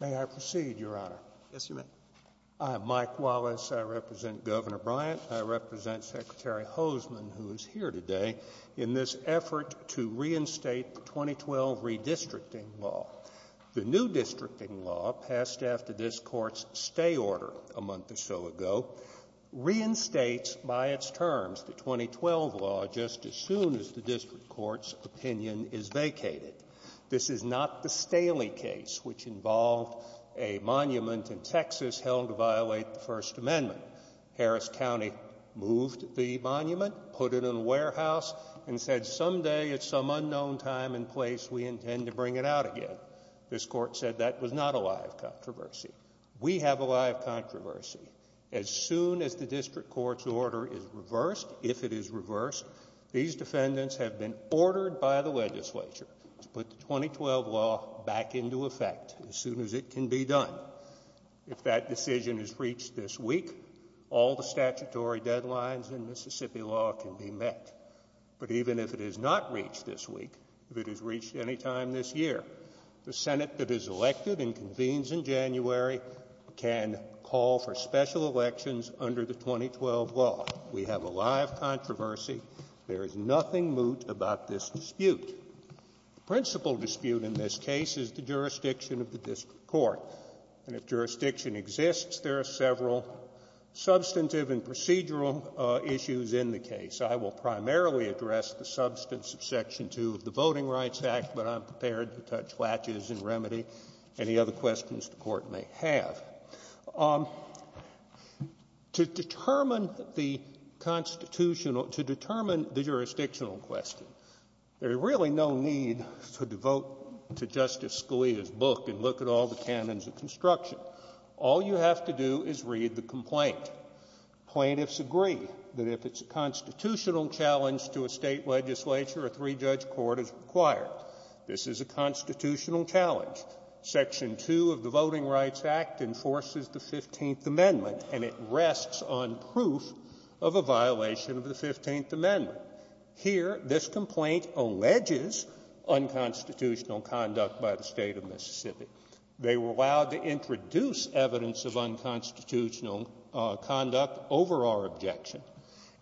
May I proceed, Your Honor? Yes, you may. I am Mike Wallace. I represent Governor Bryant. I represent Secretary Hoseman, who is here today in this effort to reinstate the 2012 redistricting law. The new districting law, passed after this Court's stay order a month or so ago, reinstates by its terms the 2012 law just as soon as the District Court's opinion is vacated. This is not the Staley case, which involved a monument in Texas held to violate the First Amendment. Harris County moved the monument, put it in a warehouse, and said someday at some unknown time and place we intend to bring it out again. This Court said that was not a live controversy. We have a live controversy. As soon as the District Court's order is reversed, if it is reversed, these defendants have been ordered by the legislature to put the 2012 law back into effect as soon as it can be done. If that decision is reached this week, all the statutory deadlines in Mississippi law can be met. But even if it is not reached this week, if it is reached any time this year, the Senate that is elected and convenes in January can call for special elections under the 2012 law. We have a live controversy. There is nothing moot about this dispute. The principal dispute in this case is the jurisdiction of the District Court. And if jurisdiction exists, there are several substantive and procedural issues in the case. I will primarily address the substance of Section 2 of the Voting Rights Act, but I'm prepared to touch latches and remedy any other questions the Court may have. To determine the jurisdictional question, there is really no need to devote to Justice Scalia's book and look at all the canons of construction. All you have to do is read the complaint. Plaintiffs agree that if it's a constitutional challenge to a state legislature, a three-judge court is required. This is a constitutional challenge. Section 2 of the Voting Rights Act enforces the 15th Amendment, and it rests on proof of a violation of the 15th Amendment. Here, this complaint alleges unconstitutional conduct by the State of Mississippi. They were allowed to introduce evidence of unconstitutional conduct over our objection,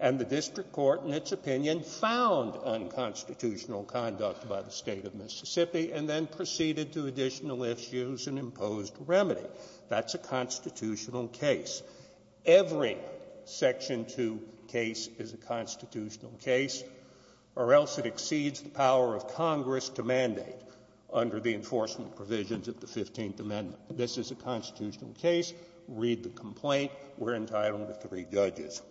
and the District Court, in its opinion, found unconstitutional conduct by the State of Mississippi and then proceeded to additional issues and imposed remedy. That's a constitutional case. Every Section 2 case is a constitutional case, or else it exceeds the power of Congress to mandate under the enforcement provisions of the 15th Amendment. This is a constitutional case. Read the complaint. We're entitled to three judges.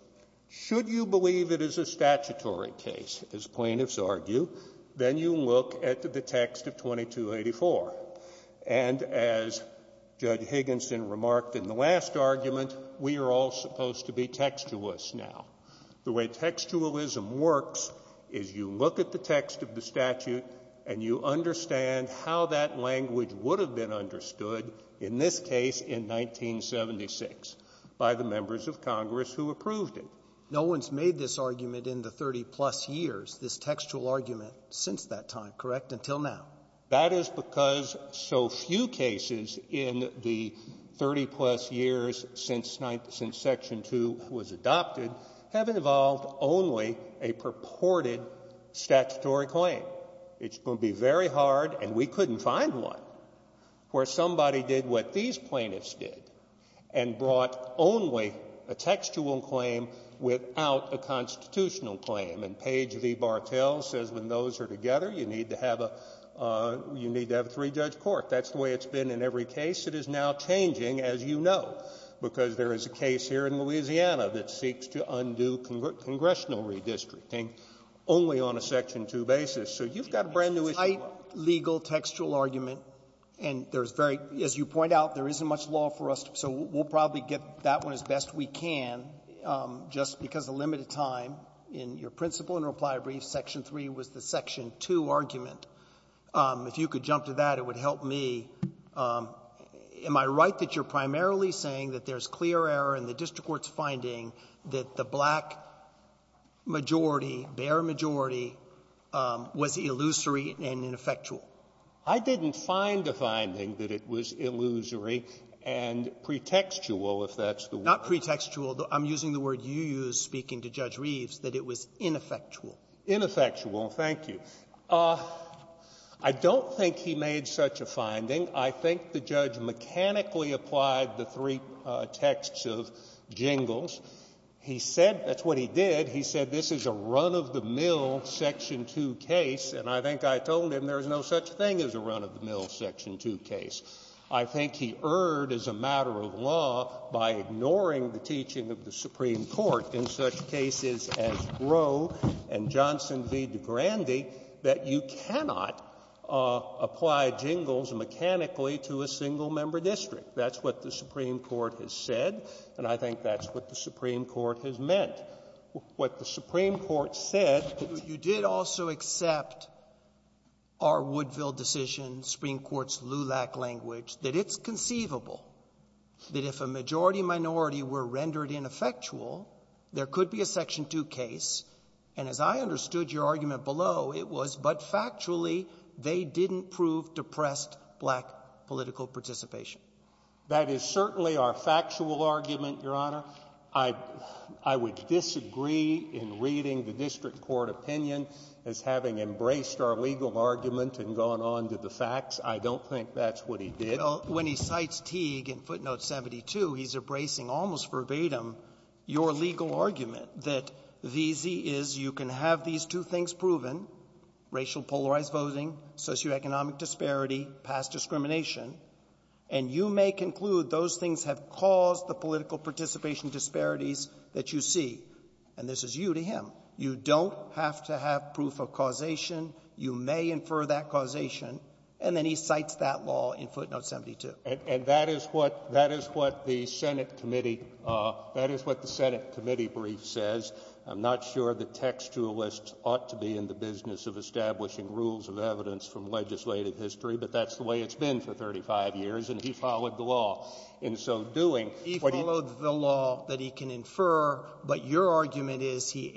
Should you believe it is a statutory case, as plaintiffs argue, then you look at the text of 2284. And as Judge Higginson remarked in the last argument, we are all supposed to be textualists now. The way textualism works is you look at the text of the statute and you understand how that language would have been understood in this case in 1976 by the members of Congress who approved it. No one's made this argument in the 30-plus years, this textual argument, since that time, correct, until now? That is because so few cases in the 30-plus years since Section 2 was adopted have involved only a purported statutory claim. It's going to be very hard, and we couldn't find one, where somebody did what these plaintiffs did and brought only a textual claim without a constitutional claim. And Page v. Bartel says when those are together, you need to have a three-judge court. That's the way it's been in every case. It is now changing, as you know, because there is a case here in Louisiana that seeks to undo congressional redistricting only on a Section 2 basis. So you've got a brand-new issue. Sotomayor, you make a tight, legal, textual argument, and there's very — as you point out, there isn't much law for us, so we'll probably get that one as best we can just because of limited time. In your principle and reply brief, Section 3 was the Section 2 argument. If you could jump to that, it would help me. Am I right that you're primarily saying that there's clear error in the district court's finding that the black majority, bare majority, was illusory and ineffectual? I didn't find a finding that it was illusory and pretextual, if that's the word. Not pretextual. I'm using the word you used speaking to Judge Reeves, that it was ineffectual. Ineffectual, thank you. I don't think he made such a finding. I think the judge mechanically applied the three texts of Jingles. He said — that's what he did. He said this is a run-of-the-mill Section 2 case, and I think I told him there is no such thing as a run-of-the-mill Section 2 case. I think he erred, as a matter of law, by ignoring the teaching of the Supreme Court in such cases as Roe and Johnson v. DeGrande that you cannot apply Jingles mechanically to a single-member district. That's what the Supreme Court has said, and I think that's what the Supreme Court has meant. What the Supreme Court said — our Woodville decision, Supreme Court's LULAC language — that it's conceivable that if a majority-minority were rendered ineffectual, there could be a Section 2 case. And as I understood your argument below, it was, but factually, they didn't prove depressed black political participation. That is certainly our factual argument, Your Honor. I would disagree in reading the district court opinion as having embraced our legal argument and gone on to the facts. I don't think that's what he did. Well, when he cites Teague in footnote 72, he's embracing almost verbatim your legal argument that the easy is you can have these two things proven, racial polarized voting, socioeconomic disparity, past discrimination, and you may conclude those things have caused the political participation disparities that you see. And this is you to him. You don't have to have proof of causation. You may infer that causation. And then he cites that law in footnote 72. And that is what — that is what the Senate committee — that is what the Senate committee brief says. I'm not sure that textualists ought to be in the business of establishing rules of evidence from legislative history, but that's the way it's been for 35 years. And he followed the law in so doing. He followed the law that he can infer. But your argument is he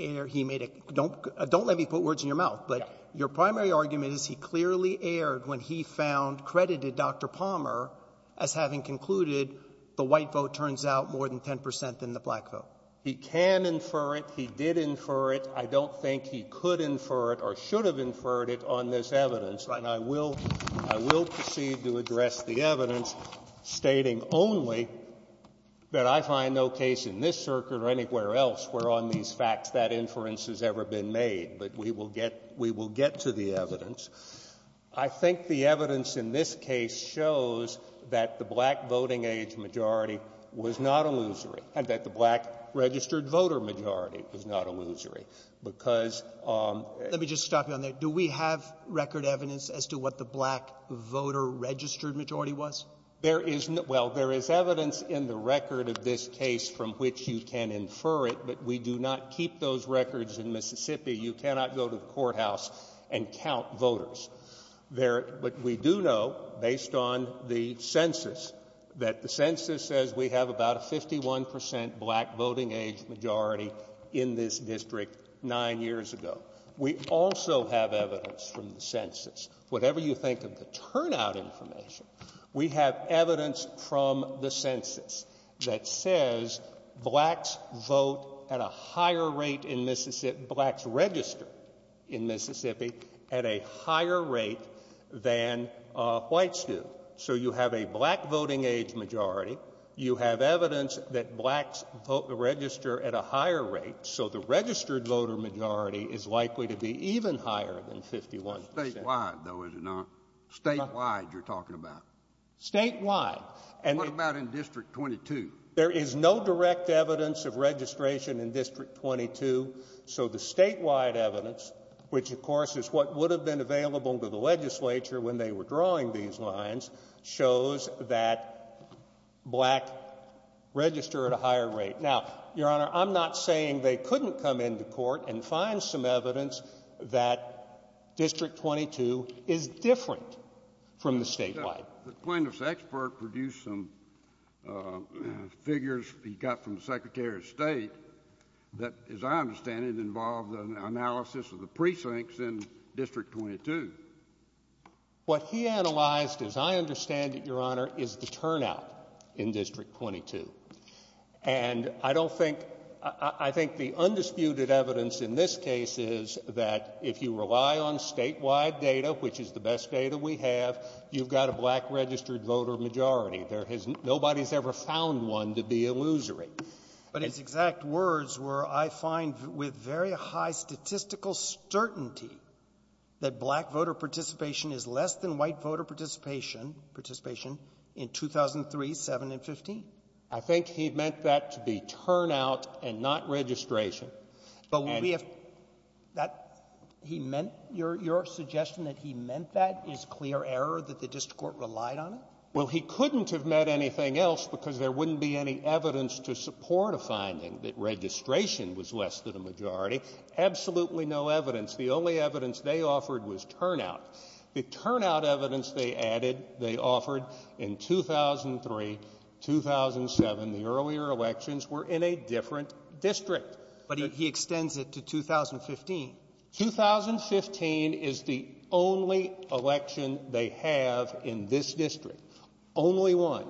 made a — don't let me put words in your mouth, but your primary argument is he clearly erred when he found — credited Dr. Palmer as having concluded the white vote turns out more than 10 percent than the black vote. He can infer it. He did infer it. I don't think he could infer it or should have inferred it on this evidence. And I will — I will proceed to address the evidence stating only that I find no case in this circuit or anywhere else where on these facts that inference has ever been made. But we will get — we will get to the evidence. I think the evidence in this case shows that the black voting-age majority was not a losery and that the black registered-voter majority was not a losery, because — Let me just stop you on that. Do we have record evidence as to what the black voter-registered majority was? There is — well, there is evidence in the record of this case from which you can infer it, but we do not keep those records in Mississippi. You cannot go to the courthouse and count voters. But we do know, based on the census, that the census says we have about a 51 percent black voting-age majority in this district nine years ago. We also have evidence from the census. Whatever you think of the turnout information, we have evidence from the census that says blacks vote at a higher rate in Mississippi — blacks register in Mississippi at a higher rate than whites do. So you have a black voting-age majority. You have evidence that blacks vote — register at a higher rate. So the registered-voter majority is likely to be even higher than 51 percent. Statewide, though, is it not? Statewide, you're talking about? Statewide. And what about in District 22? There is no direct evidence of registration in District 22, so the statewide evidence, which, of course, is what would have been available to the legislature when they were drawing these lines, shows that black register at a higher rate. Now, Your Honor, I'm not saying they couldn't come into court and find some evidence that District 22 is different from the statewide. The plaintiff's expert produced some figures he got from the Secretary of State that, as I understand it, involved an analysis of the precincts in District 22. What he analyzed, as I understand it, Your Honor, is the turnout in District 22. And I don't think — I think the undisputed evidence in this case is that if you rely on statewide data, which is the best data we have, you've got a black-registered-voter majority. There has — nobody's ever found one to be illusory. But it's exact words where I find with very high statistical certainty that black voter participation is less than white voter participation in 2003, 7, and 15. I think he meant that to be turnout and not registration. But would we have — that — he meant — your suggestion that he meant that is clear error, that the district court relied on it? Well, he couldn't have meant anything else because there wouldn't be any evidence to support a finding that registration was less than a majority. Absolutely no evidence. The only evidence they offered was turnout. The turnout evidence they added, they offered in 2003, 2007, the earlier elections, were in a different district. But he extends it to 2015. 2015 is the only election they have in this district, only one.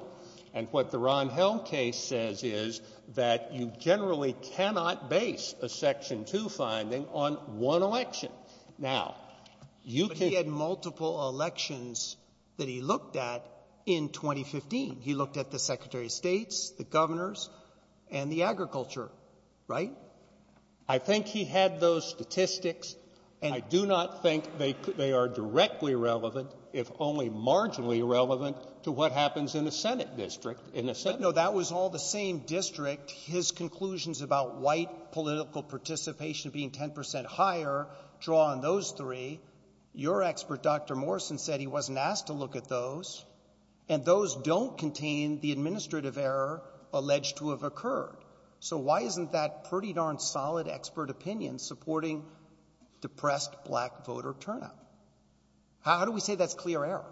And what the Ron Held case says is that you generally cannot base a Section 2 finding on one election. Now, you can — But he had multiple elections that he looked at in 2015. He looked at the secretary of states, the governors, and the agriculture, right? I think he had those statistics. And — I do not think they are directly relevant, if only marginally relevant, to what happens in a Senate district. In a Senate — But, no, that was all the same district. His conclusions about white political participation being 10 percent higher draw on those three. Your expert, Dr. Morrison, said he wasn't asked to look at those. And those don't contain the administrative error alleged to have occurred. So why isn't that pretty darn solid expert opinion supporting depressed Black voter turnout? How do we say that's clear error?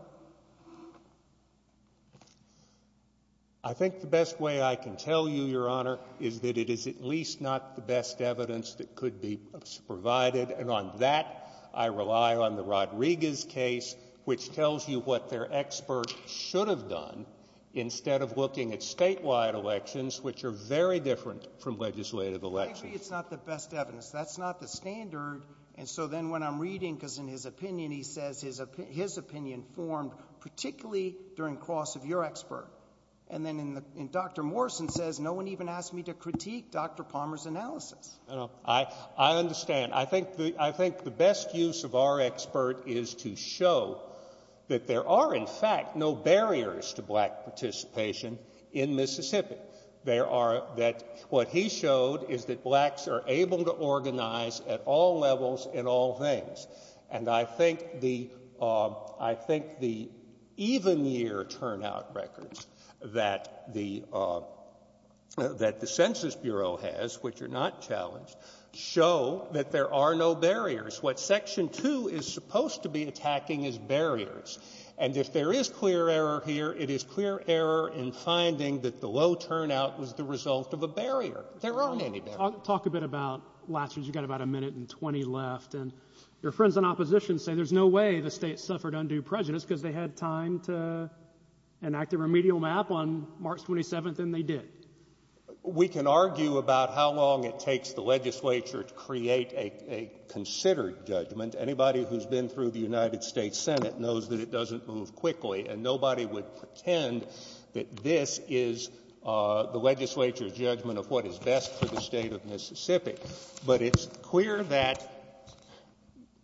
I think the best way I can tell you, Your Honor, is that it is at least not the best evidence that could be provided. And on that, I rely on the Rodriguez case, which tells you what their expert should have done instead of looking at statewide elections, which are very different from legislative elections. Frankly, it's not the best evidence. That's not the standard. And so then when I'm reading — because in his opinion, he says — his opinion forms particularly during cross of your expert. And then in the — Dr. Morrison says, no one even asked me to critique Dr. Palmer's analysis. I understand. I think the best use of our expert is to show that there are, in fact, no barriers to Black participation in Mississippi. There are — what he showed is that Blacks are able to organize at all levels in all things. And I think the — I think the even-year turnout records that the Census Bureau has, which are not challenged, show that there are no barriers. What Section 2 is supposed to be attacking is barriers. And if there is clear error here, it is clear error in finding that the low turnout was the result of a barrier. There aren't any barriers. I'll talk a bit about last year. You've got about a minute and 20 left. And your friends in opposition say there's no way the state suffered undue prejudice because they had time to enact a remedial map on March 27th, and they did. We can argue about how long it takes the legislature to create a considered judgment. Anybody who's been through the United States Senate knows that it doesn't move quickly, and nobody would pretend that this is the legislature's judgment of what is best for the state of Mississippi. But it's clear that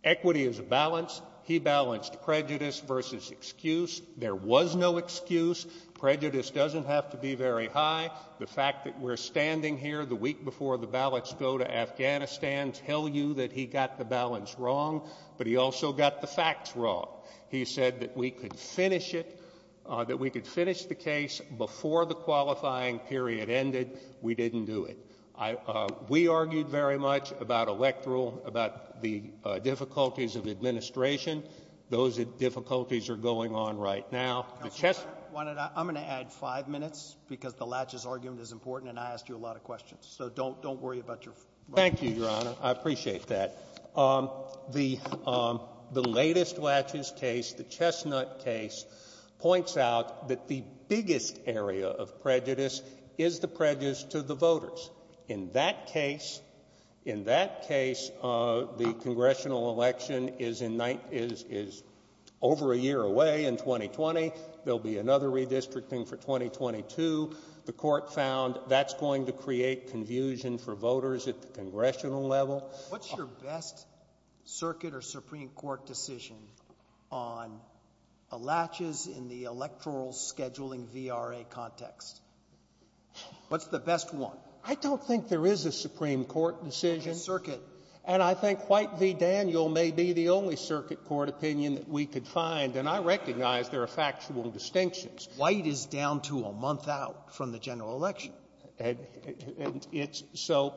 equity is a balance. He balanced prejudice versus excuse. There was no excuse. Prejudice doesn't have to be very high. The fact that we're standing here the week before the ballots go to Afghanistan tell you that he got the balance wrong, but he also got the facts wrong. He said that we could finish it, that we could finish the case before the qualifying period ended. We didn't do it. We argued very much about electoral, about the difficulties of administration. Those difficulties are going on right now. Counselor, I'm going to add five minutes because the Latches argument is important, and I asked you a lot of questions. So don't worry about your run. Thank you, Your Honor. I appreciate that. The latest Latches case, the Chestnut case, points out that the biggest area of prejudice is the prejudice to the voters. In that case, the congressional election is over a year away in 2020. There'll be another redistricting for 2022. The court found that's going to create confusion for voters at the congressional level. What's your best circuit or Supreme Court decision on Latches in the electoral scheduling VRA context? What's the best one? I don't think there is a Supreme Court decision. Just circuit. And I think White v. Daniel may be the only circuit court opinion that we could find, and I recognize there are factual distinctions. White is down to a month out from the general election. And it's so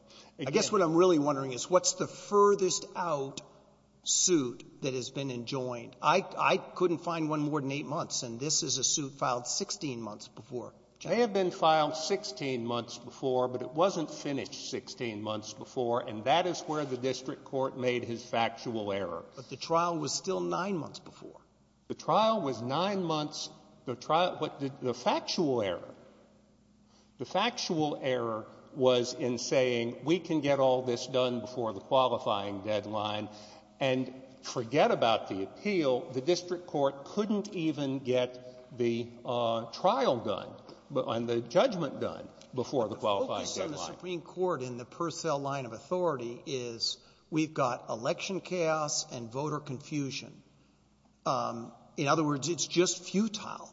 — I guess what I'm really wondering is what's the furthest out suit that has been enjoined? I couldn't find one more than eight months, and this is a suit filed 16 months before. It may have been filed 16 months before, but it wasn't finished 16 months before, and that is where the district court made his factual error. But the trial was still nine months before. The trial was nine months. The trial — but the factual error — the factual error was in saying we can get all the district court couldn't even get the trial done and the judgment done before the qualifying deadline. But the focus on the Supreme Court in the Purcell line of authority is we've got election chaos and voter confusion. In other words, it's just futile.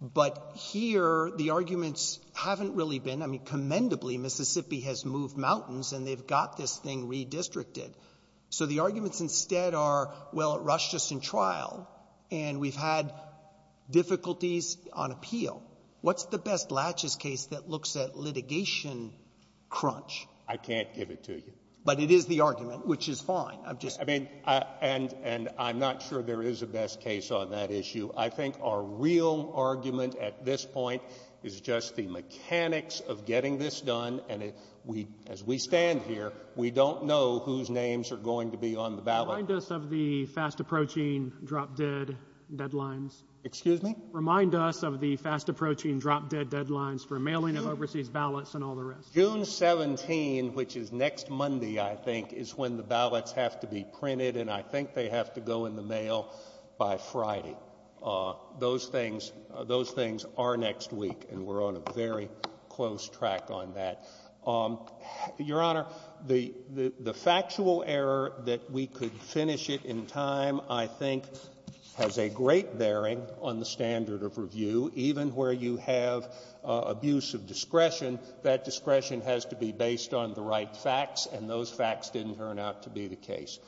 But here, the arguments haven't really been — I mean, commendably, Mississippi has moved mountains, and they've got this thing redistricted. So the arguments instead are, well, it rushed us in trial, and we've had difficulties on appeal. What's the best latches case that looks at litigation crunch? I can't give it to you. But it is the argument, which is fine. I'm just — I mean, and — and I'm not sure there is a best case on that issue. I think our real argument at this point is just the mechanics of getting this done. And we — as we stand here, we don't know whose names are going to be on the ballot. Remind us of the fast-approaching drop-dead deadlines. Excuse me? Remind us of the fast-approaching drop-dead deadlines for mailing of overseas ballots and all the rest. June 17, which is next Monday, I think, is when the ballots have to be printed, and I think they have to go in the mail by Friday. Those things — those things are next week, and we're on a very close track on that. Your Honor, the factual error that we could finish it in time, I think, has a great bearing on the standard of review. Even where you have abuse of discretion, that discretion has to be based on the right facts, and those facts didn't turn out to be the case.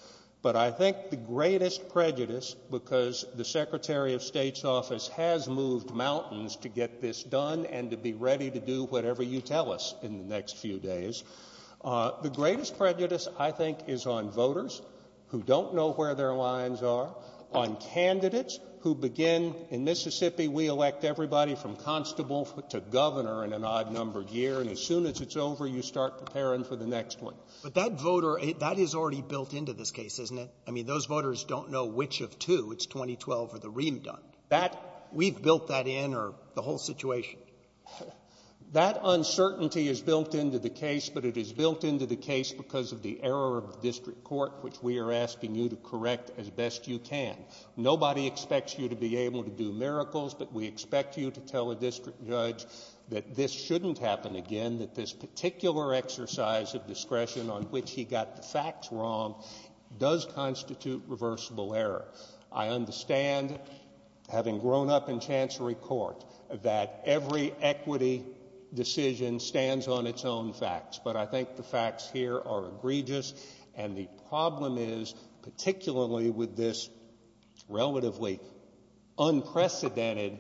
But I think the greatest prejudice — because the Secretary of State's office has moved mountains to get this done and to be ready to do whatever you tell us in the next few days — the greatest prejudice, I think, is on voters who don't know where their lines are, on candidates who begin — in Mississippi, we elect everybody from constable to governor in an odd-numbered year, and as soon as it's over, you start preparing for the next one. But that voter — that is already built into this case, isn't it? I mean, those voters don't know which of two — it's 2012 or the ream done. That — we've built that in, or the whole situation. That uncertainty is built into the case, but it is built into the case because of the error of the district court, which we are asking you to correct as best you can. Nobody expects you to be able to do miracles, but we expect you to tell a district judge that this shouldn't happen again, that this particular exercise of discretion on which he got the facts wrong does constitute reversible error. I understand, having grown up in Chancery Court, that every equity decision stands on its own facts, but I think the facts here are egregious, and the problem is, particularly with this relatively unprecedented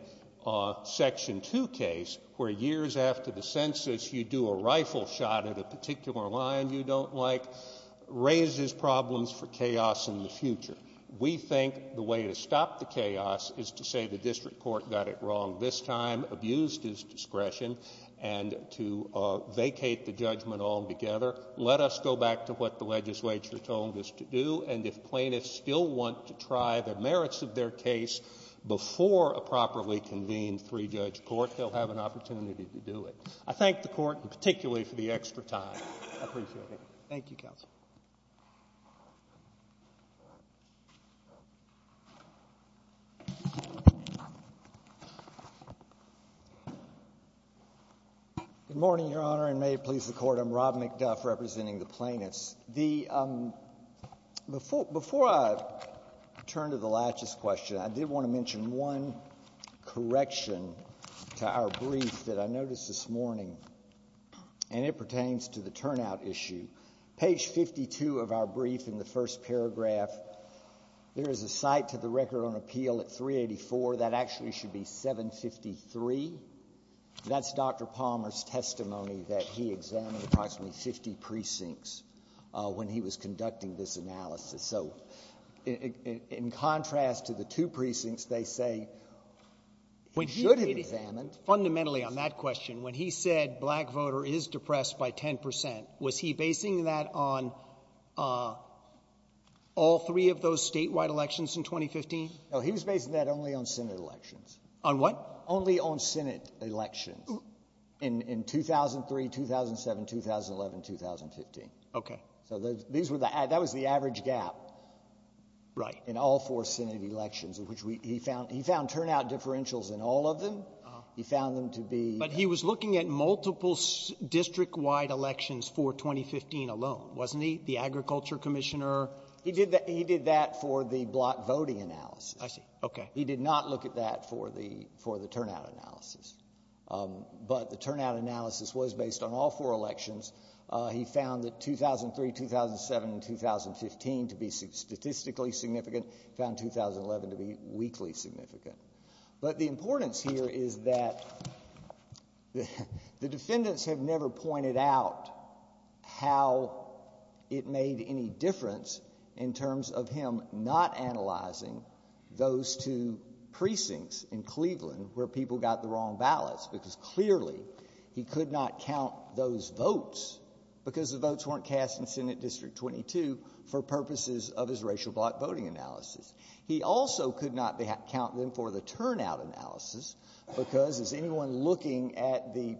Section 2 case, where years after the census, you do a rifle shot at a particular line you don't like, raises problems for chaos in the future. We think the way to stop the chaos is to say the district court got it wrong this time, abused his discretion, and to vacate the judgment altogether. Let us go back to what the legislature told us to do, and if plaintiffs still want to try the merits of their case before a properly convened three-judge court, they'll have an opportunity to do it. I thank the Court, and particularly for the extra time. I appreciate it. Thank you, counsel. Good morning, Your Honor, and may it please the Court. I'm Rob McDuff, representing the plaintiffs. Before I turn to the laches question, I did want to mention one correction to our brief that I noticed this morning, and it pertains to the turnout issue. Page 52 of our brief, in the first paragraph, there is a cite to the record on appeal at 384. That actually should be 753. That's Dr. Palmer's testimony that he examined approximately 50 precincts when he was conducting this analysis. So in contrast to the two precincts, they say he should have examined. Fundamentally on that question, when he said black voter is depressed by 10 percent, was he basing that on all three of those statewide elections in 2015? No, he was basing that only on Senate elections. On what? Only on Senate elections in 2003, 2007, 2011, 2015. Okay. So that was the average gap. Right. In all four Senate elections, which he found turnout differentials in all of them. He found them to be. But he was looking at multiple district-wide elections for 2015 alone, wasn't he? The agriculture commissioner. He did that for the black voting analysis. I see. Okay. He did not look at that for the turnout analysis. But the turnout analysis was based on all four elections. He found that 2003, 2007, and 2015 to be statistically significant. He found 2011 to be weakly significant. But the importance here is that the defendants have never pointed out how it made any difference in terms of him not analyzing those two precincts in Cleveland where people got the wrong ballots. Because clearly he could not count those votes because the votes weren't cast in Senate District 22 for purposes of his racial black voting analysis. He also could not count them for the turnout analysis because as anyone looking at the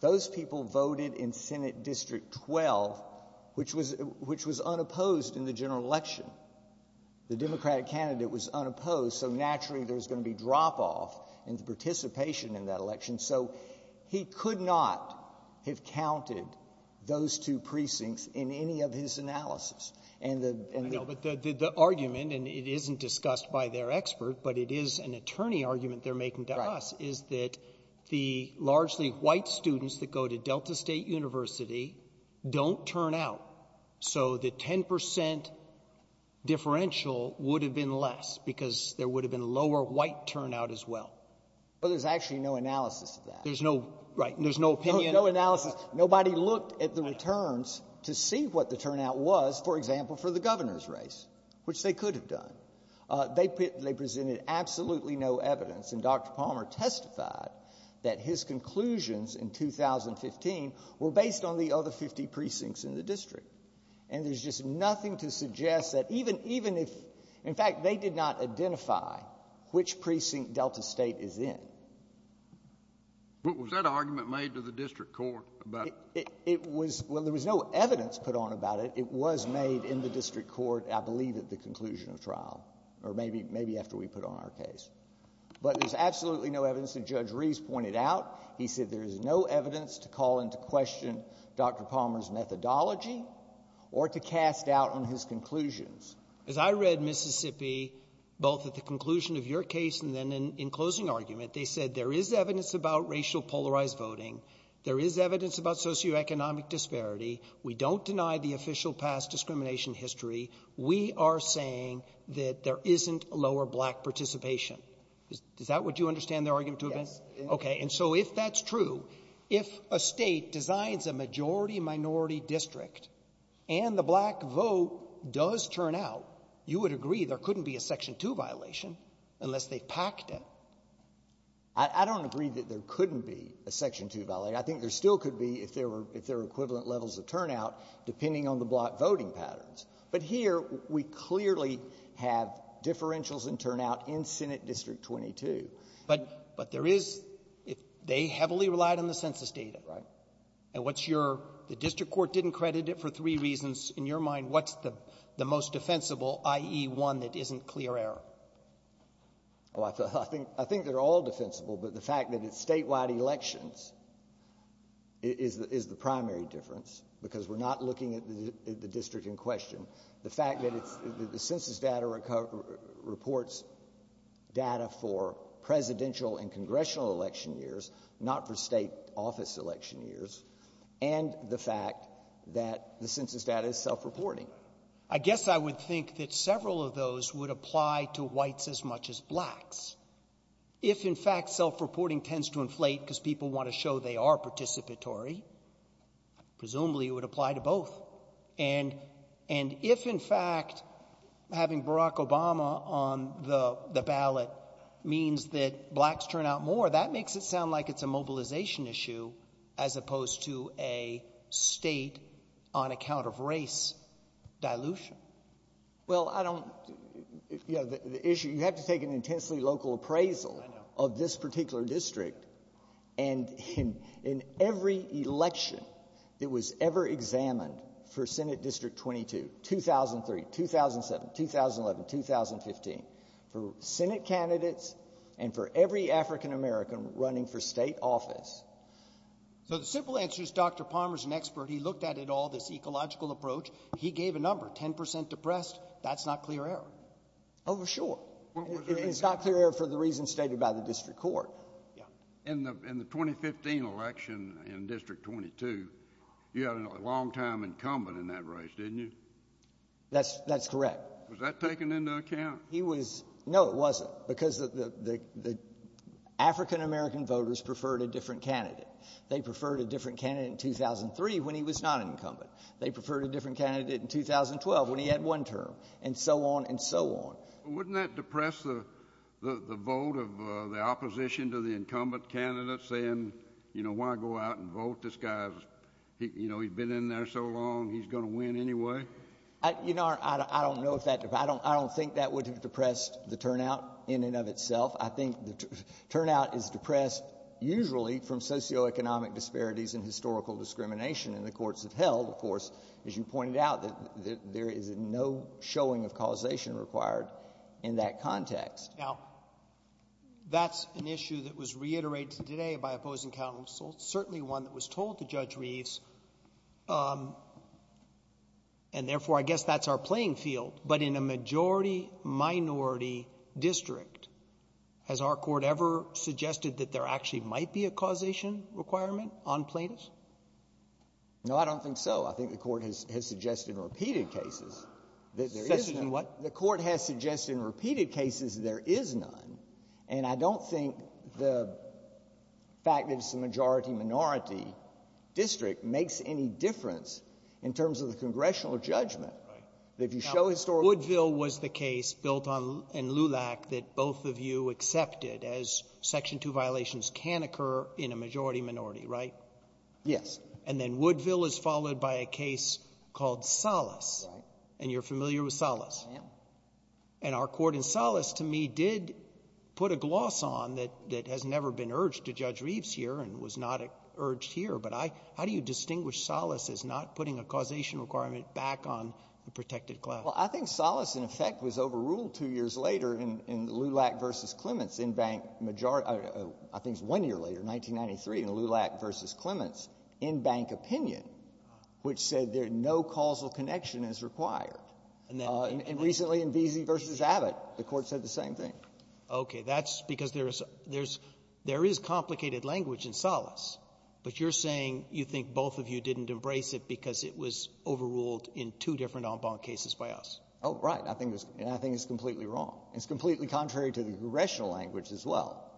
those people voted in Senate District 12, which was unopposed in the general election. The Democratic candidate was unopposed. So naturally there's going to be drop-off in the participation in that election. So he could not have counted those two precincts in any of his analysis. But the argument, and it isn't discussed by their expert, but it is an attorney argument they're making to us, is that the largely white students that go to Delta State University don't turn out. So the 10% differential would have been less because there would have been lower white turnout as well. But there's actually no analysis of that. There's no, right, there's no opinion. No analysis. Nobody looked at the returns to see what the turnout was, for example, for the governor's race, which they could have done. They presented absolutely no evidence. And Dr. Palmer testified that his conclusions in 2015 were based on the other 50 precincts in the district. And there's just nothing to suggest that even if, in fact, they did not identify which precinct Delta State is in. But was that argument made to the district court? Well, there was no evidence put on about it. It was made in the district court, I believe, at the conclusion of trial. Maybe after we put on our case. But there's absolutely no evidence that Judge Rees pointed out. He said there is no evidence to call into question Dr. Palmer's methodology or to cast out on his conclusions. As I read Mississippi, both at the conclusion of your case and then in closing argument, they said there is evidence about racial polarized voting. There is evidence about socioeconomic disparity. We don't deny the official past discrimination history. We are saying that there isn't lower black participation. Is that what you understand their argument to have been? Yes. Okay. And so if that's true, if a State designs a majority-minority district and the black vote does turn out, you would agree there couldn't be a Section 2 violation unless they packed it. I don't agree that there couldn't be a Section 2 violation. I think there still could be if there were equivalent levels of turnout, depending on the black voting patterns. But here, we clearly have differentials in turnout in Senate District 22. But there is, they heavily relied on the census data. Right. And what's your, the district court didn't credit it for three reasons. In your mind, what's the most defensible, i.e., one that isn't clear error? Well, I think they're all defensible, but the fact that it's statewide elections is the primary difference, because we're not looking at the district in question. The fact that the census data reports data for presidential and congressional election years, not for state office election years, and the fact that the census data is self-reporting. I guess I would think that several of those would apply to whites as much as blacks. If, in fact, self-reporting tends to inflate because people want to show they are participatory, presumably it would apply to both. And if, in fact, having Barack Obama on the ballot means that blacks turn out more, that makes it sound like it's a mobilization issue as opposed to a state-on-account-of-race dilution. Well, you have to take an intensely local appraisal of this particular district. And in every election that was ever examined for Senate District 22, 2003, 2007, 2011, 2015, for Senate candidates and for every African-American running for state office. So the simple answer is Dr. Palmer is an expert. He looked at it all, this ecological approach. He gave a number, 10 percent depressed. That's not clear error. Oh, sure. It's not clear error for the reasons stated by the district court. In the 2015 election in District 22, you had a long-time incumbent in that race, didn't you? That's correct. Was that taken into account? He was. No, it wasn't, because the African-American voters preferred a different candidate. They preferred a different candidate in 2003 when he was not an incumbent. They preferred a different candidate in 2012 when he had one term. And so on and so on. Wouldn't that depress the vote of the opposition to the incumbent candidate saying, you know, why go out and vote? This guy's, you know, he's been in there so long, he's going to win anyway. You know, I don't know if that—I don't think that would have depressed the turnout in and of itself. I think the turnout is depressed usually from socioeconomic disparities and historical discrimination. And the courts have held, of course, as you pointed out, that there is no showing of causation required in that context. Now, that's an issue that was reiterated today by opposing counsel, certainly one that was told to Judge Reeves. And therefore, I guess that's our playing field. But in a majority-minority district, has our court ever suggested that there actually might be a causation requirement on plaintiffs? No, I don't think so. I think the Court has suggested in repeated cases that there is none. Suggested in what? The Court has suggested in repeated cases that there is none. And I don't think the fact that it's a majority-minority district makes any difference in terms of the congressional judgment. Right. That if you show historical— Now, Woodville was the case built on — in LULAC that both of you accepted as Section 2 violations can occur in a majority-minority, right? Yes. And then Woodville is followed by a case called Salas. Right. And you're familiar with Salas? I am. And our court in Salas, to me, did put a gloss on that has never been urged to Judge Reeves here and was not urged here. But how do you distinguish Salas as not putting a causation requirement back on the protected class? Well, I think Salas, in effect, was overruled two years later in LULAC v. Clements in majority — I think it's one year later, 1993, in LULAC v. Clements in Bank Opinion, which said there's no causal connection as required. And recently in Veazey v. Abbott, the Court said the same thing. Okay. That's because there is — there is complicated language in Salas. But you're saying you think both of you didn't embrace it because it was overruled in two different en banc cases by us. Oh, right. I think it's — and I think it's completely wrong. It's completely contrary to the congressional language as well.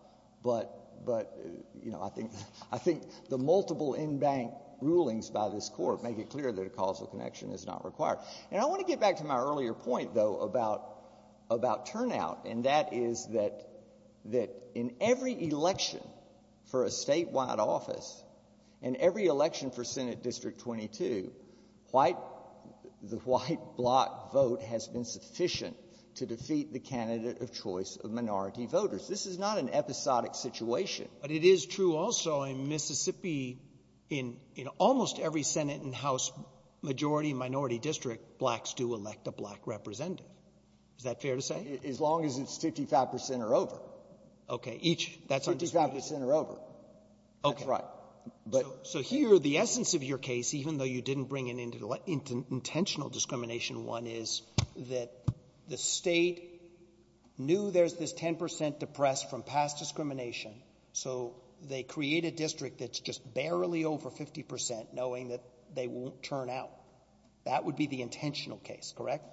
But — but, you know, I think — I think the multiple en banc rulings by this Court make it clear that a causal connection is not required. And I want to get back to my earlier point, though, about — about turnout, and that is that — that in every election for a statewide office, in every election for Senate of minority voters. This is not an episodic situation. But it is true also in Mississippi. In — in almost every Senate and House majority and minority district, blacks do elect a black representative. Is that fair to say? As long as it's 55 percent or over. Okay. Each. That's understood. Fifty-five percent or over. Okay. That's right. So here, the essence of your case, even though you didn't bring it into intentional discrimination, one, is that the state knew there's this 10 percent depressed from past discrimination, so they create a district that's just barely over 50 percent, knowing that they won't turn out. That would be the intentional case, correct?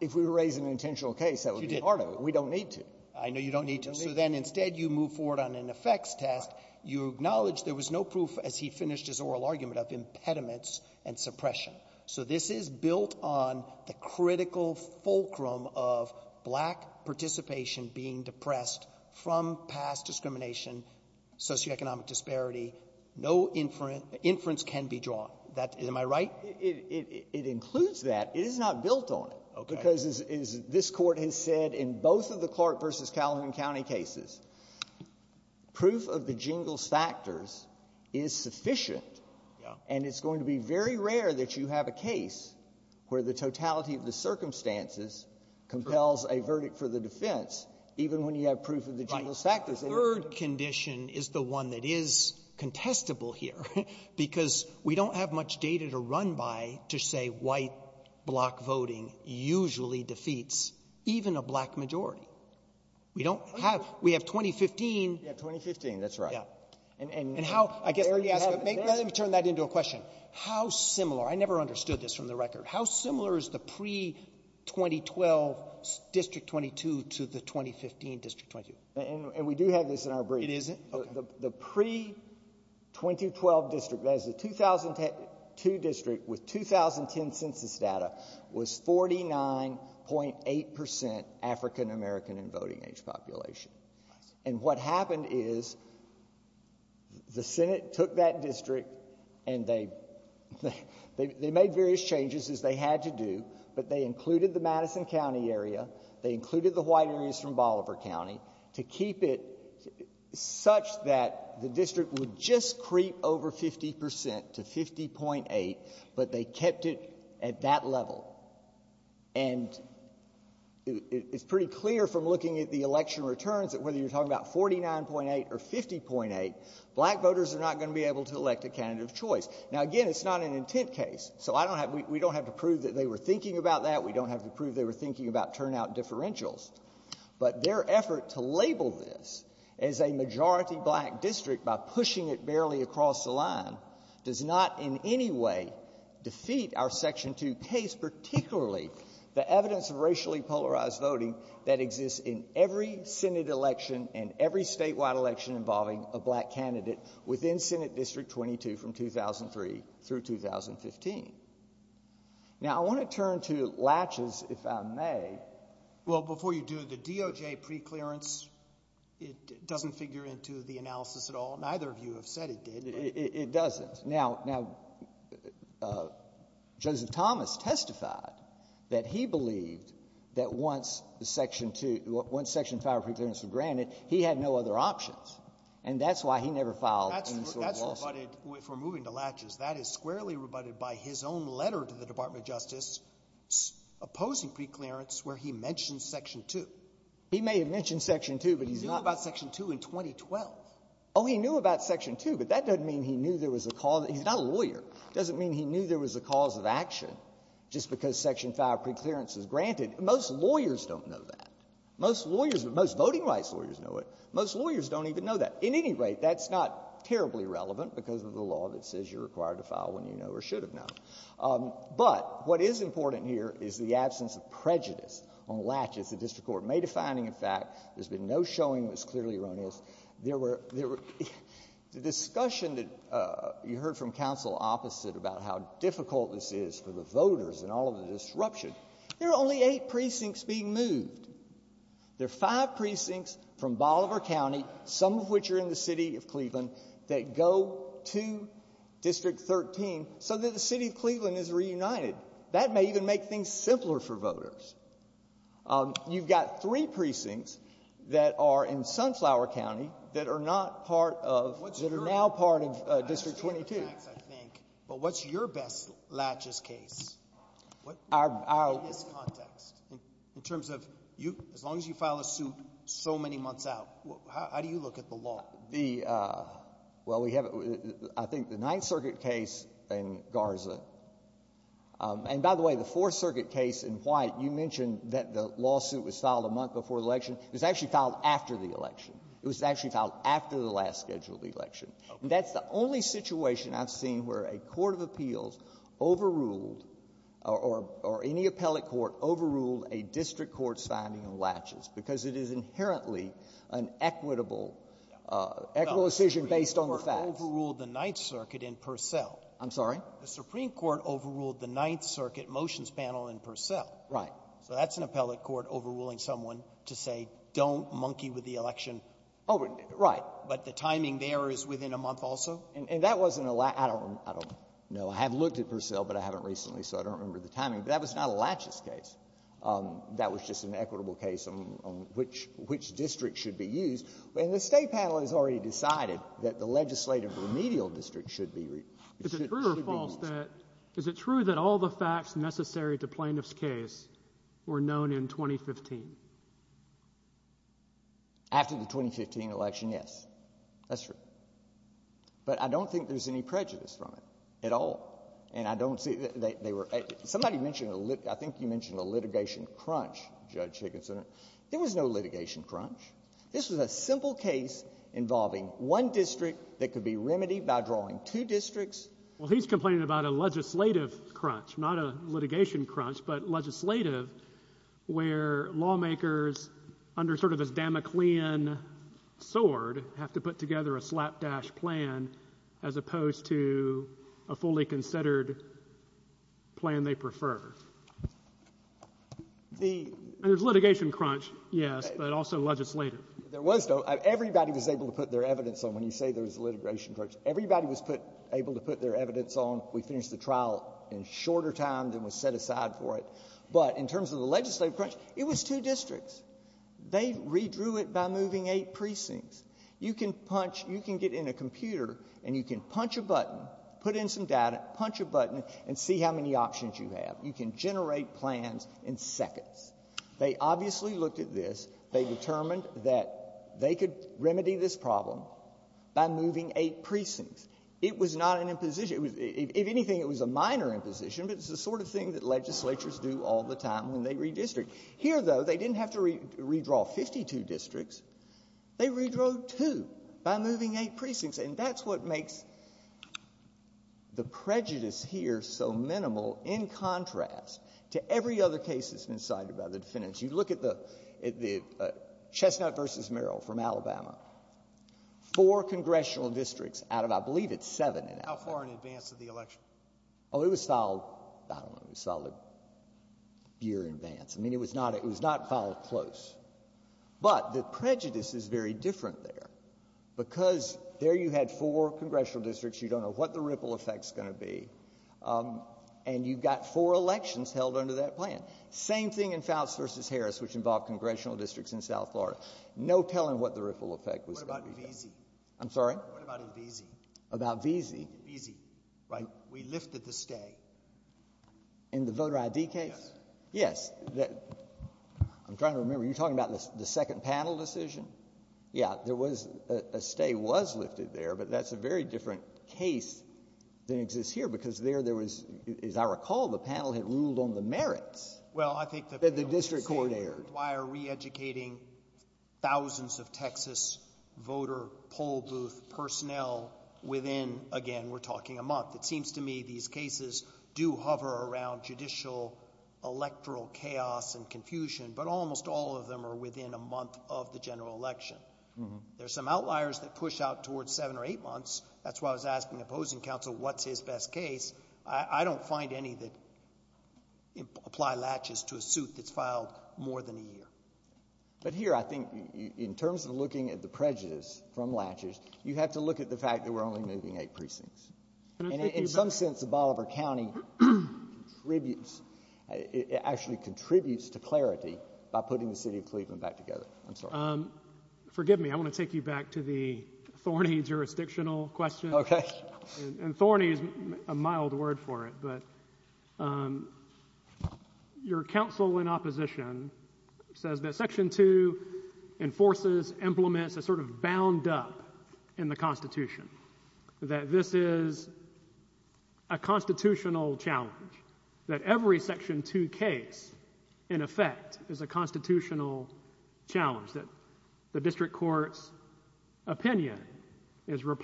If we raise an intentional case, that would be part of it. We don't need to. I know you don't need to. So then, instead, you move forward on an effects test. You acknowledge there was no proof, as he finished his oral argument, of impediments and suppression. So this is built on the critical fulcrum of black participation being depressed from past discrimination, socioeconomic disparity. No inference can be drawn. Am I right? It includes that. It is not built on it, because as this Court has said in both of the Clark versus Calhoun County cases, proof of the jingles factors is sufficient, and it's going to be very rare that you have a case where the totality of the circumstances compels a verdict for the defense, even when you have proof of the jingles factors. The third condition is the one that is contestable here, because we don't have much data to run by to say white block voting usually defeats even a black majority. We don't have. We have 2015. Yeah, 2015. That's right. Yeah. I never understood this from the record. How similar is the pre-2012 District 22 to the 2015 District 22? And we do have this in our brief. It isn't? The pre-2012 district, that is the 2002 district with 2010 census data, was 49.8% African American and voting age population. And what happened is the Senate took that district and they made various changes, as they had to do, but they included the Madison County area. They included the white areas from Bolivar County to keep it such that the district would just creep over 50% to 50.8, but they kept it at that level. And it's pretty clear from looking at the election returns that whether you're talking about 49.8 or 50.8, black voters are not going to be able to elect a candidate of choice. Now, again, it's not an intent case, so we don't have to prove that they were thinking about that. We don't have to prove they were thinking about turnout differentials, but their effort to label this as a majority black district by pushing it barely across the line does not in any way defeat our Section 2 case, particularly the evidence of racially polarized voting that exists in every Senate election and every statewide election involving a black candidate within Senate District 22 from 2003 through 2015. Now, I want to turn to latches, if I may. Well, before you do, the DOJ preclearance, it doesn't figure into the analysis at all. Neither of you have said it did. It doesn't. Now, now, Joseph Thomas testified that he believed that once the Section 2, once Section 5 of preclearance was granted, he had no other options. And that's why he never filed any sort of lawsuit. That's rebutted, if we're moving to latches, that is squarely rebutted by his own letter to the Department of Justice opposing preclearance where he mentioned Section 2. He may have mentioned Section 2, but he's not been ---- He knew about Section 2 in 2012. Oh, he knew about Section 2, but that doesn't mean he knew there was a cause. He's not a lawyer. It doesn't mean he knew there was a cause of action just because Section 5 of preclearance is granted. Most lawyers don't know that. Most lawyers, most voting rights lawyers know it. Most lawyers don't even know that. At any rate, that's not terribly relevant because of the law that says you're required to file when you know or should have known. But what is important here is the absence of prejudice on latches. The district court made a finding, in fact. There's been no showing that's clearly erroneous. There were, there were, the discussion that you heard from counsel opposite about how difficult this is for the voters and all of the disruption, there are only eight precincts being moved. There are five precincts from Bolivar County, some of which are in the City of Cleveland, that go to District 13 so that the City of Cleveland is reunited. That may even make things simpler for voters. You've got three precincts that are in Sunflower County that are not part of, that are now part of District 22. But what's your best latches case? In this context, in terms of you, as long as you file a suit so many months out, how do you look at the law? The, well we have, I think the Ninth Circuit case in Garza, and by the way, the Fourth Circuit case in White, you mentioned that the lawsuit was filed a month before the election. It was actually filed after the election. It was actually filed after the last scheduled election. That's the only situation I've seen where a court of appeals overruled, or any appellate court overruled a district court's finding on latches, because it is inherently an equitable, equitable decision based on the facts. The Supreme Court overruled the Ninth Circuit in Purcell. I'm sorry? The Supreme Court overruled the Ninth Circuit motions panel in Purcell. Right. So that's an appellate court overruling someone to say don't monkey with the election. Oh, right. But the timing there is within a month also? And that wasn't a latch — I don't, I don't know. I have looked at Purcell, but I haven't recently, so I don't remember the timing. But that was not a latches case. That was just an equitable case on which, which district should be used. And the State panel has already decided that the legislative remedial district should be — Is it true or false that — is it true that all the facts necessary to plaintiff's case were known in 2015? After the 2015 election, yes. That's true. But I don't think there's any prejudice from it at all. And I don't see — they were — somebody mentioned a — I think you mentioned a litigation crunch, Judge Higginson. There was no litigation crunch. This was a simple case involving one district that could be remedied by drawing two districts — Well, he's complaining about a legislative crunch, not a litigation crunch, but legislative, where lawmakers, under sort of this Damoclean sword, have to put together a slapdash plan as opposed to a fully considered plan they prefer. The — And there's litigation crunch, yes, but also legislative. There was no — everybody was able to put their evidence on when you say there was a litigation crunch. Everybody was put — able to put their evidence on. We finished the trial in shorter time than was set aside for it. But in terms of the legislative crunch, it was two districts. They redrew it by moving eight precincts. You can punch — you can get in a computer, and you can punch a button, put in some data, punch a button, and see how many options you have. You can generate plans in seconds. They obviously looked at this. They determined that they could remedy this problem by moving eight precincts. It was not an imposition. It was — if anything, it was a minor imposition, but it's the sort of thing that legislatures do all the time when they redistrict. Here, though, they didn't have to redraw 52 districts. They redrew two by moving eight precincts, and that's what makes the prejudice here so minimal in contrast to every other case that's been cited by the defendants. You look at the — at the Chestnut v. Merrill from Alabama. Four congressional districts out of — I believe it's seven in Alabama. How far in advance of the election? Oh, it was filed — I don't know. It was filed a year in advance. I mean, it was not — it was not filed close. But the prejudice is very different there, because there you had four congressional districts. You don't know what the ripple effect's going to be. And you've got four elections held under that plan. Same thing in Fouts v. Harris, which involved congressional districts in South Florida. No telling what the ripple effect was going to be. What about Veazey? I'm sorry? What about in Veazey? About Veazey. Veazey, right. We lifted the stay. In the voter ID case? Yes. Yes. I'm trying to remember. You're talking about the second panel decision? Yeah. There was — a stay was lifted there, but that's a very different case than exists here, because there, there was — as I recall, the panel had ruled on the merits. Well, I think that — The district court erred. — reeducating thousands of Texas voter poll booth personnel within, again, we're talking a month. It seems to me these cases do hover around judicial electoral chaos and confusion, but almost all of them are within a month of the general election. There's some outliers that push out towards seven or eight months. That's why I was asking the opposing counsel, what's his best case? I don't find any that apply latches to a suit that's filed more than a year. But here, I think, in terms of looking at the prejudice from latches, you have to look at the fact that we're only moving eight precincts. And in some sense, the Bolivar County contributes — it actually contributes to clarity by putting the city of Cleveland back together. I'm sorry. Forgive me. I want to take you back to the Thorney jurisdictional question. OK. And Thorney is a mild word for it, but your counsel in opposition says that Section 2 enforces, implements a sort of bound up in the Constitution, that this is a constitutional challenge, that every Section 2 case, in effect, is a constitutional challenge, that the is a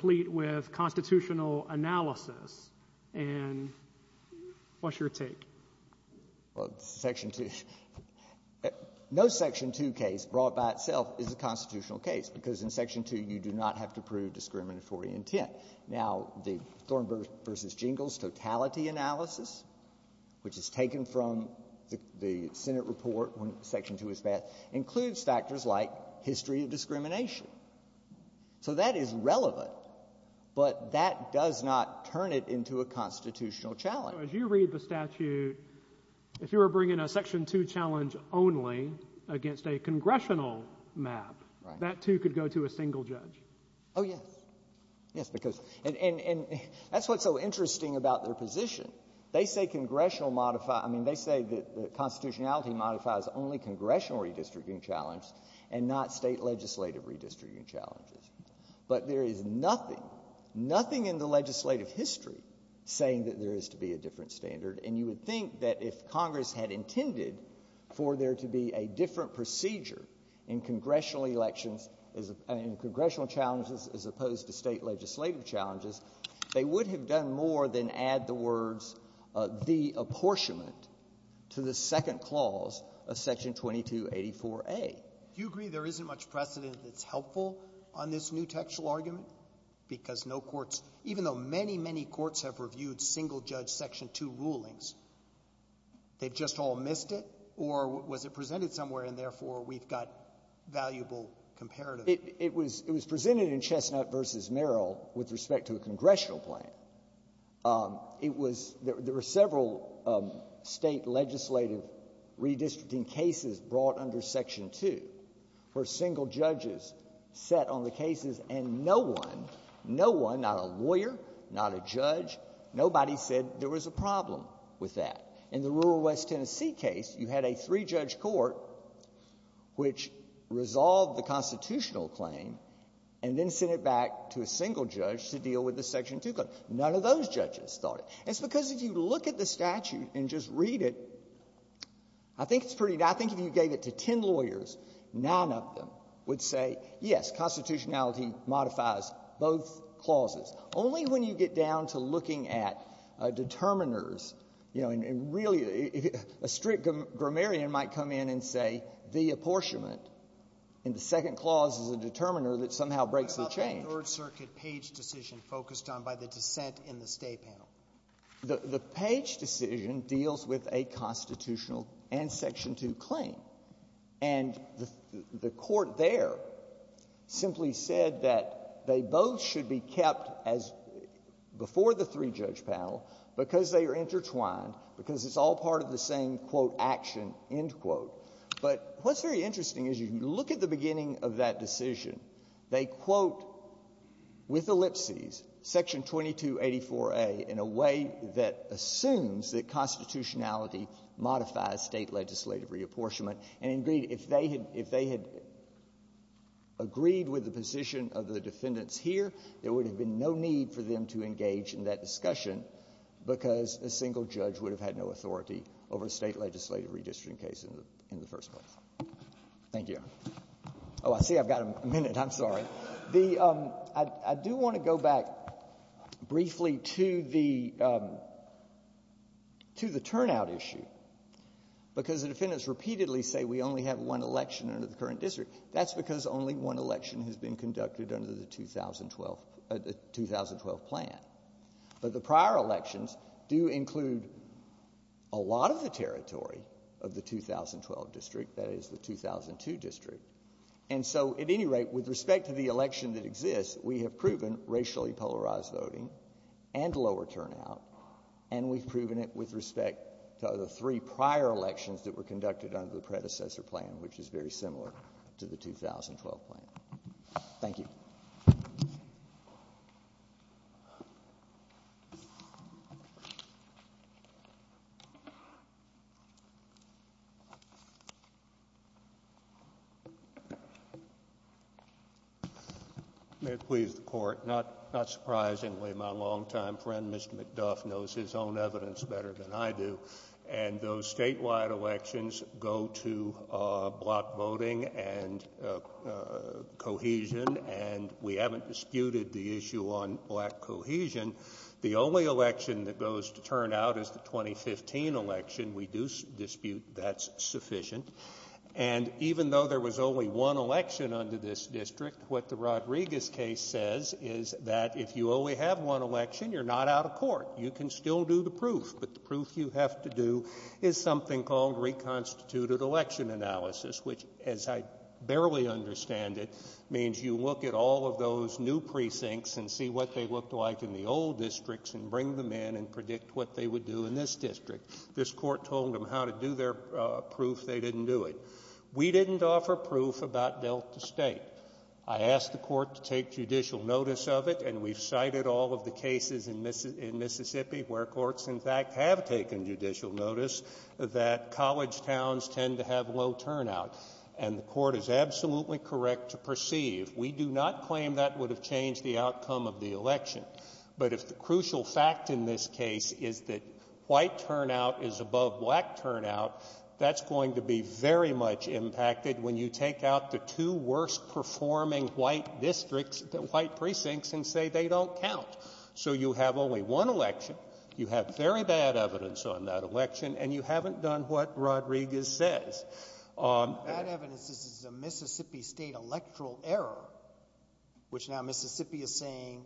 constitutional analysis. And what's your take? Well, Section 2 — no Section 2 case brought by itself is a constitutional case, because in Section 2, you do not have to prove discriminatory intent. Now, the Thorne v. Jingles totality analysis, which is taken from the Senate report when Section 2 was passed, includes factors like history of discrimination. So that is relevant. But that does not turn it into a constitutional challenge. So as you read the statute, if you were bringing a Section 2 challenge only against a congressional map, that too could go to a single judge. Oh, yes. Yes, because — and that's what's so interesting about their position. They say congressional modify — I mean, they say that the constitutionality modifies only congressional redistricting challenge and not state legislative redistricting challenges. But there is nothing, nothing in the legislative history saying that there is to be a different standard. And you would think that if Congress had intended for there to be a different procedure in congressional elections — in congressional challenges as opposed to state legislative challenges, they would have done more than add the words, the apportionment to the second clause of Section 2284a. Do you agree there isn't much precedent that's helpful on this new textual argument? Because no courts — even though many, many courts have reviewed single-judge Section 2 rulings, they've just all missed it? Or was it presented somewhere, and therefore, we've got valuable comparative — It was — it was presented in Chestnut v. Merrill with respect to a congressional plan. It was — there were several state legislative redistricting cases brought under Section 2 where single judges sat on the cases, and no one — no one, not a lawyer, not a judge, nobody said there was a problem with that. In the rural West Tennessee case, you had a three-judge court which resolved the constitutional claim and then sent it back to a single judge to deal with the Section 2 claim. None of those judges thought it. It's because if you look at the statute and just read it, I think it's pretty — I think it's pretty obvious, none of them would say, yes, constitutionality modifies both clauses. Only when you get down to looking at determiners, you know, and really — a strict grammarian might come in and say the apportionment in the second clause is a determiner that somehow breaks the change. What about the Third Circuit Page decision focused on by the dissent in the State panel? The Page decision deals with a constitutional and Section 2 claim. And the Court there simply said that they both should be kept as — before the three-judge panel because they are intertwined, because it's all part of the same, quote, action, end quote. But what's very interesting is you look at the beginning of that decision. They quote with ellipses Section 2284a in a way that assumes that constitutionality modifies State legislative reapportionment. And, indeed, if they had — if they had agreed with the position of the defendants here, there would have been no need for them to engage in that discussion because a single judge would have had no authority over a State legislative redistricting case in the — in the first place. Thank you. Oh, I see I've got a minute. I'm sorry. The — I do want to go back briefly to the — to the turnout issue because the defendants repeatedly say we only have one election under the current district. That's because only one election has been conducted under the 2012 — the 2012 plan. But the prior elections do include a lot of the territory of the 2012 district, that is, the 2002 district. And so, at any rate, with respect to the election that exists, we have proven racially polarized voting and lower turnout, and we've proven it with respect to the three prior elections that were conducted under the predecessor plan, which is very similar to the 2012 plan. Thank you. May it please the Court, not — not surprisingly, my long-time friend, Mr. McDuff, knows his own evidence better than I do, and those statewide elections go to black voting and cohesion, and we haven't disputed the issue on black cohesion. The only election that goes to turnout is the 2015 election. We do dispute that's sufficient. And even though there was only one election under this district, what the Rodriguez case says is that if you only have one election, you're not out of court. You can still do the proof, but the proof you have to do is something called reconstituted election analysis, which, as I barely understand it, means you look at all of those new precincts and see what they looked like in the old districts and bring them in and predict what they would do in this district. This Court told them how to do their proof. They didn't do it. We didn't offer proof about Delta State. I asked the Court to take judicial notice of it, and we've cited all of the cases in Mississippi where courts, in fact, have taken judicial notice that college towns tend to have low turnout, and the Court is absolutely correct to perceive. We do not claim that would have changed the outcome of the election. But if the crucial fact in this case is that white turnout is above black turnout, that's going to be very much impacted when you take out the two worst-performing white districts, white precincts, and say they don't count. So you have only one election, you have very bad evidence on that election, and you haven't done what Rodriguez says. Bad evidence is the Mississippi State electoral error, which now Mississippi is saying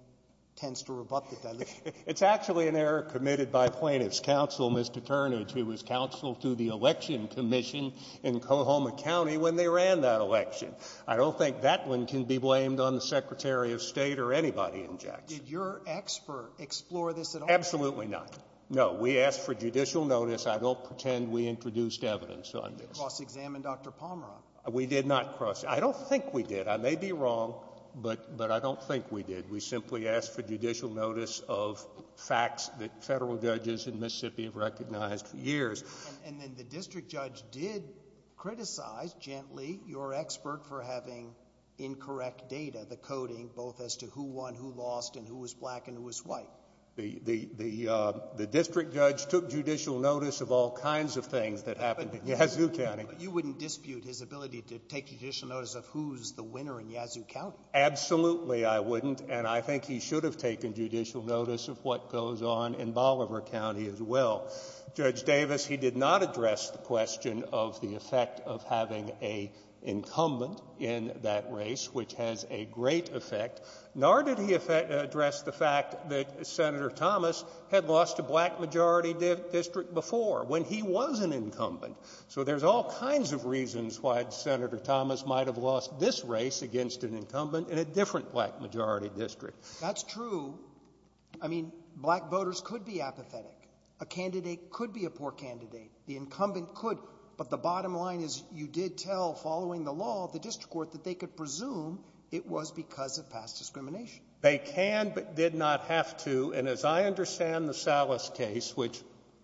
tends to rebut the deletion. It's actually an error committed by plaintiff's counsel, Mr. Turnage, who was counsel to the election commission in Coahoma County when they ran that election. I don't think that one can be blamed on the Secretary of State or anybody in Jackson. Did your expert explore this at all? Absolutely not. No. We asked for judicial notice. I don't pretend we introduced evidence on this. You didn't cross-examine Dr. Pomeroy. We did not cross-examine. I don't think we did. I may be wrong, but I don't think we did. We simply asked for judicial notice of facts that federal judges in Mississippi have recognized for years. And then the district judge did criticize, gently, your expert for having incorrect data, the coding, both as to who won, who lost, and who was black and who was white. The district judge took judicial notice of all kinds of things that happened in Yazoo County. But you wouldn't dispute his ability to take judicial notice of who's the winner in Yazoo County. Absolutely, I wouldn't. And I think he should have taken judicial notice of what goes on in Bolivar County as well. Judge Davis, he did not address the question of the effect of having an incumbent in that race, which has a great effect. Nor did he address the fact that Senator Thomas had lost a black majority district before, when he was an incumbent. So there's all kinds of reasons why Senator Thomas might have lost this race against an incumbent in a different black majority district. That's true. I mean, black voters could be apathetic. A candidate could be a poor candidate. The incumbent could. But the bottom line is, you did tell, following the law, the district court, that they could presume it was because of past discrimination. They can, but did not have to. And as I understand the Salas case, which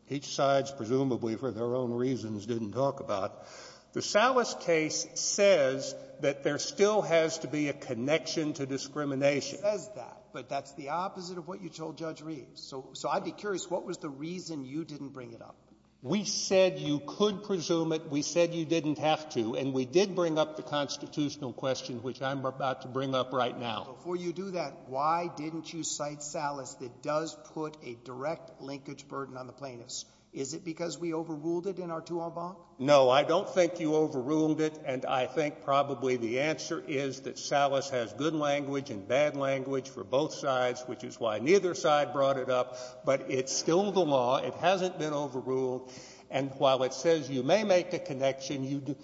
each side's presumably, for their own reasons, didn't talk about, the Salas case says that there still has to be a connection to discrimination. It says that, but that's the opposite of what you told Judge Reeves. So I'd be curious, what was the reason you didn't bring it up? We said you could presume it. We said you didn't have to. And we did bring up the constitutional question, which I'm about to bring up right now. Before you do that, why didn't you cite Salas that does put a direct linkage burden on the plaintiffs? Is it because we overruled it in our two-all bond? No, I don't think you overruled it. And I think probably the answer is that Salas has good language and bad language for both sides, which is why neither side brought it up. But it's still the law. It hasn't been overruled. And while it says you may make a connection,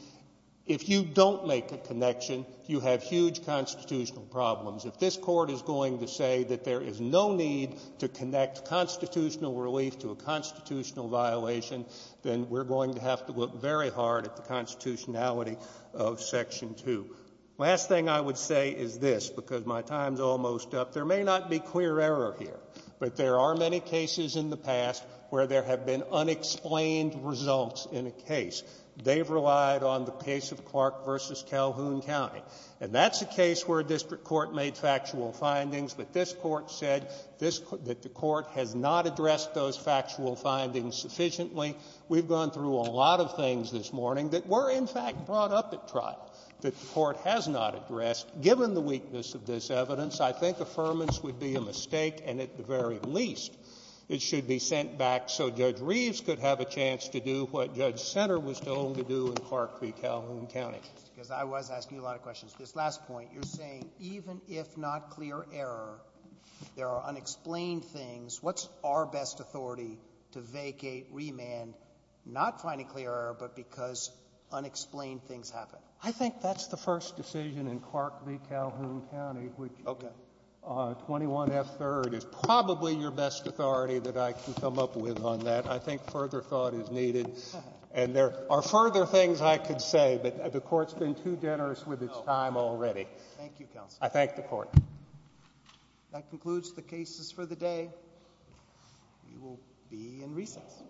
if you don't make a connection, you have huge constitutional problems. If this Court is going to say that there is no need to connect constitutional relief to a constitutional violation, then we're going to have to look very hard at the constitutionality of Section 2. Last thing I would say is this, because my time's almost up. There may not be clear error here, but there are many cases in the past where there have been unexplained results in a case. They've relied on the case of Clark v. Calhoun County. And that's a case where a district court made factual findings, but this Court said that the Court has not addressed those factual findings sufficiently. We've gone through a lot of things this morning that were, in fact, brought up at trial that the Court has not addressed. Given the weakness of this evidence, I think affirmance would be a mistake, and at the very least, it should be sent back so Judge Reeves could have a chance to do what Judge Senter was told to do in Clark v. Calhoun County. Because I was asking a lot of questions. This last point, you're saying even if not clear error, there are unexplained things. What's our best authority to vacate, remand, not finding clear error, but because unexplained things happen? I think that's the first decision in Clark v. Calhoun County, which 21F3rd is probably your best authority that I can come up with on that. I think further thought is needed, and there are further things I could say, but the time is up. Thank you, Counsel. I thank the Court. That concludes the cases for the day. We will be in recess.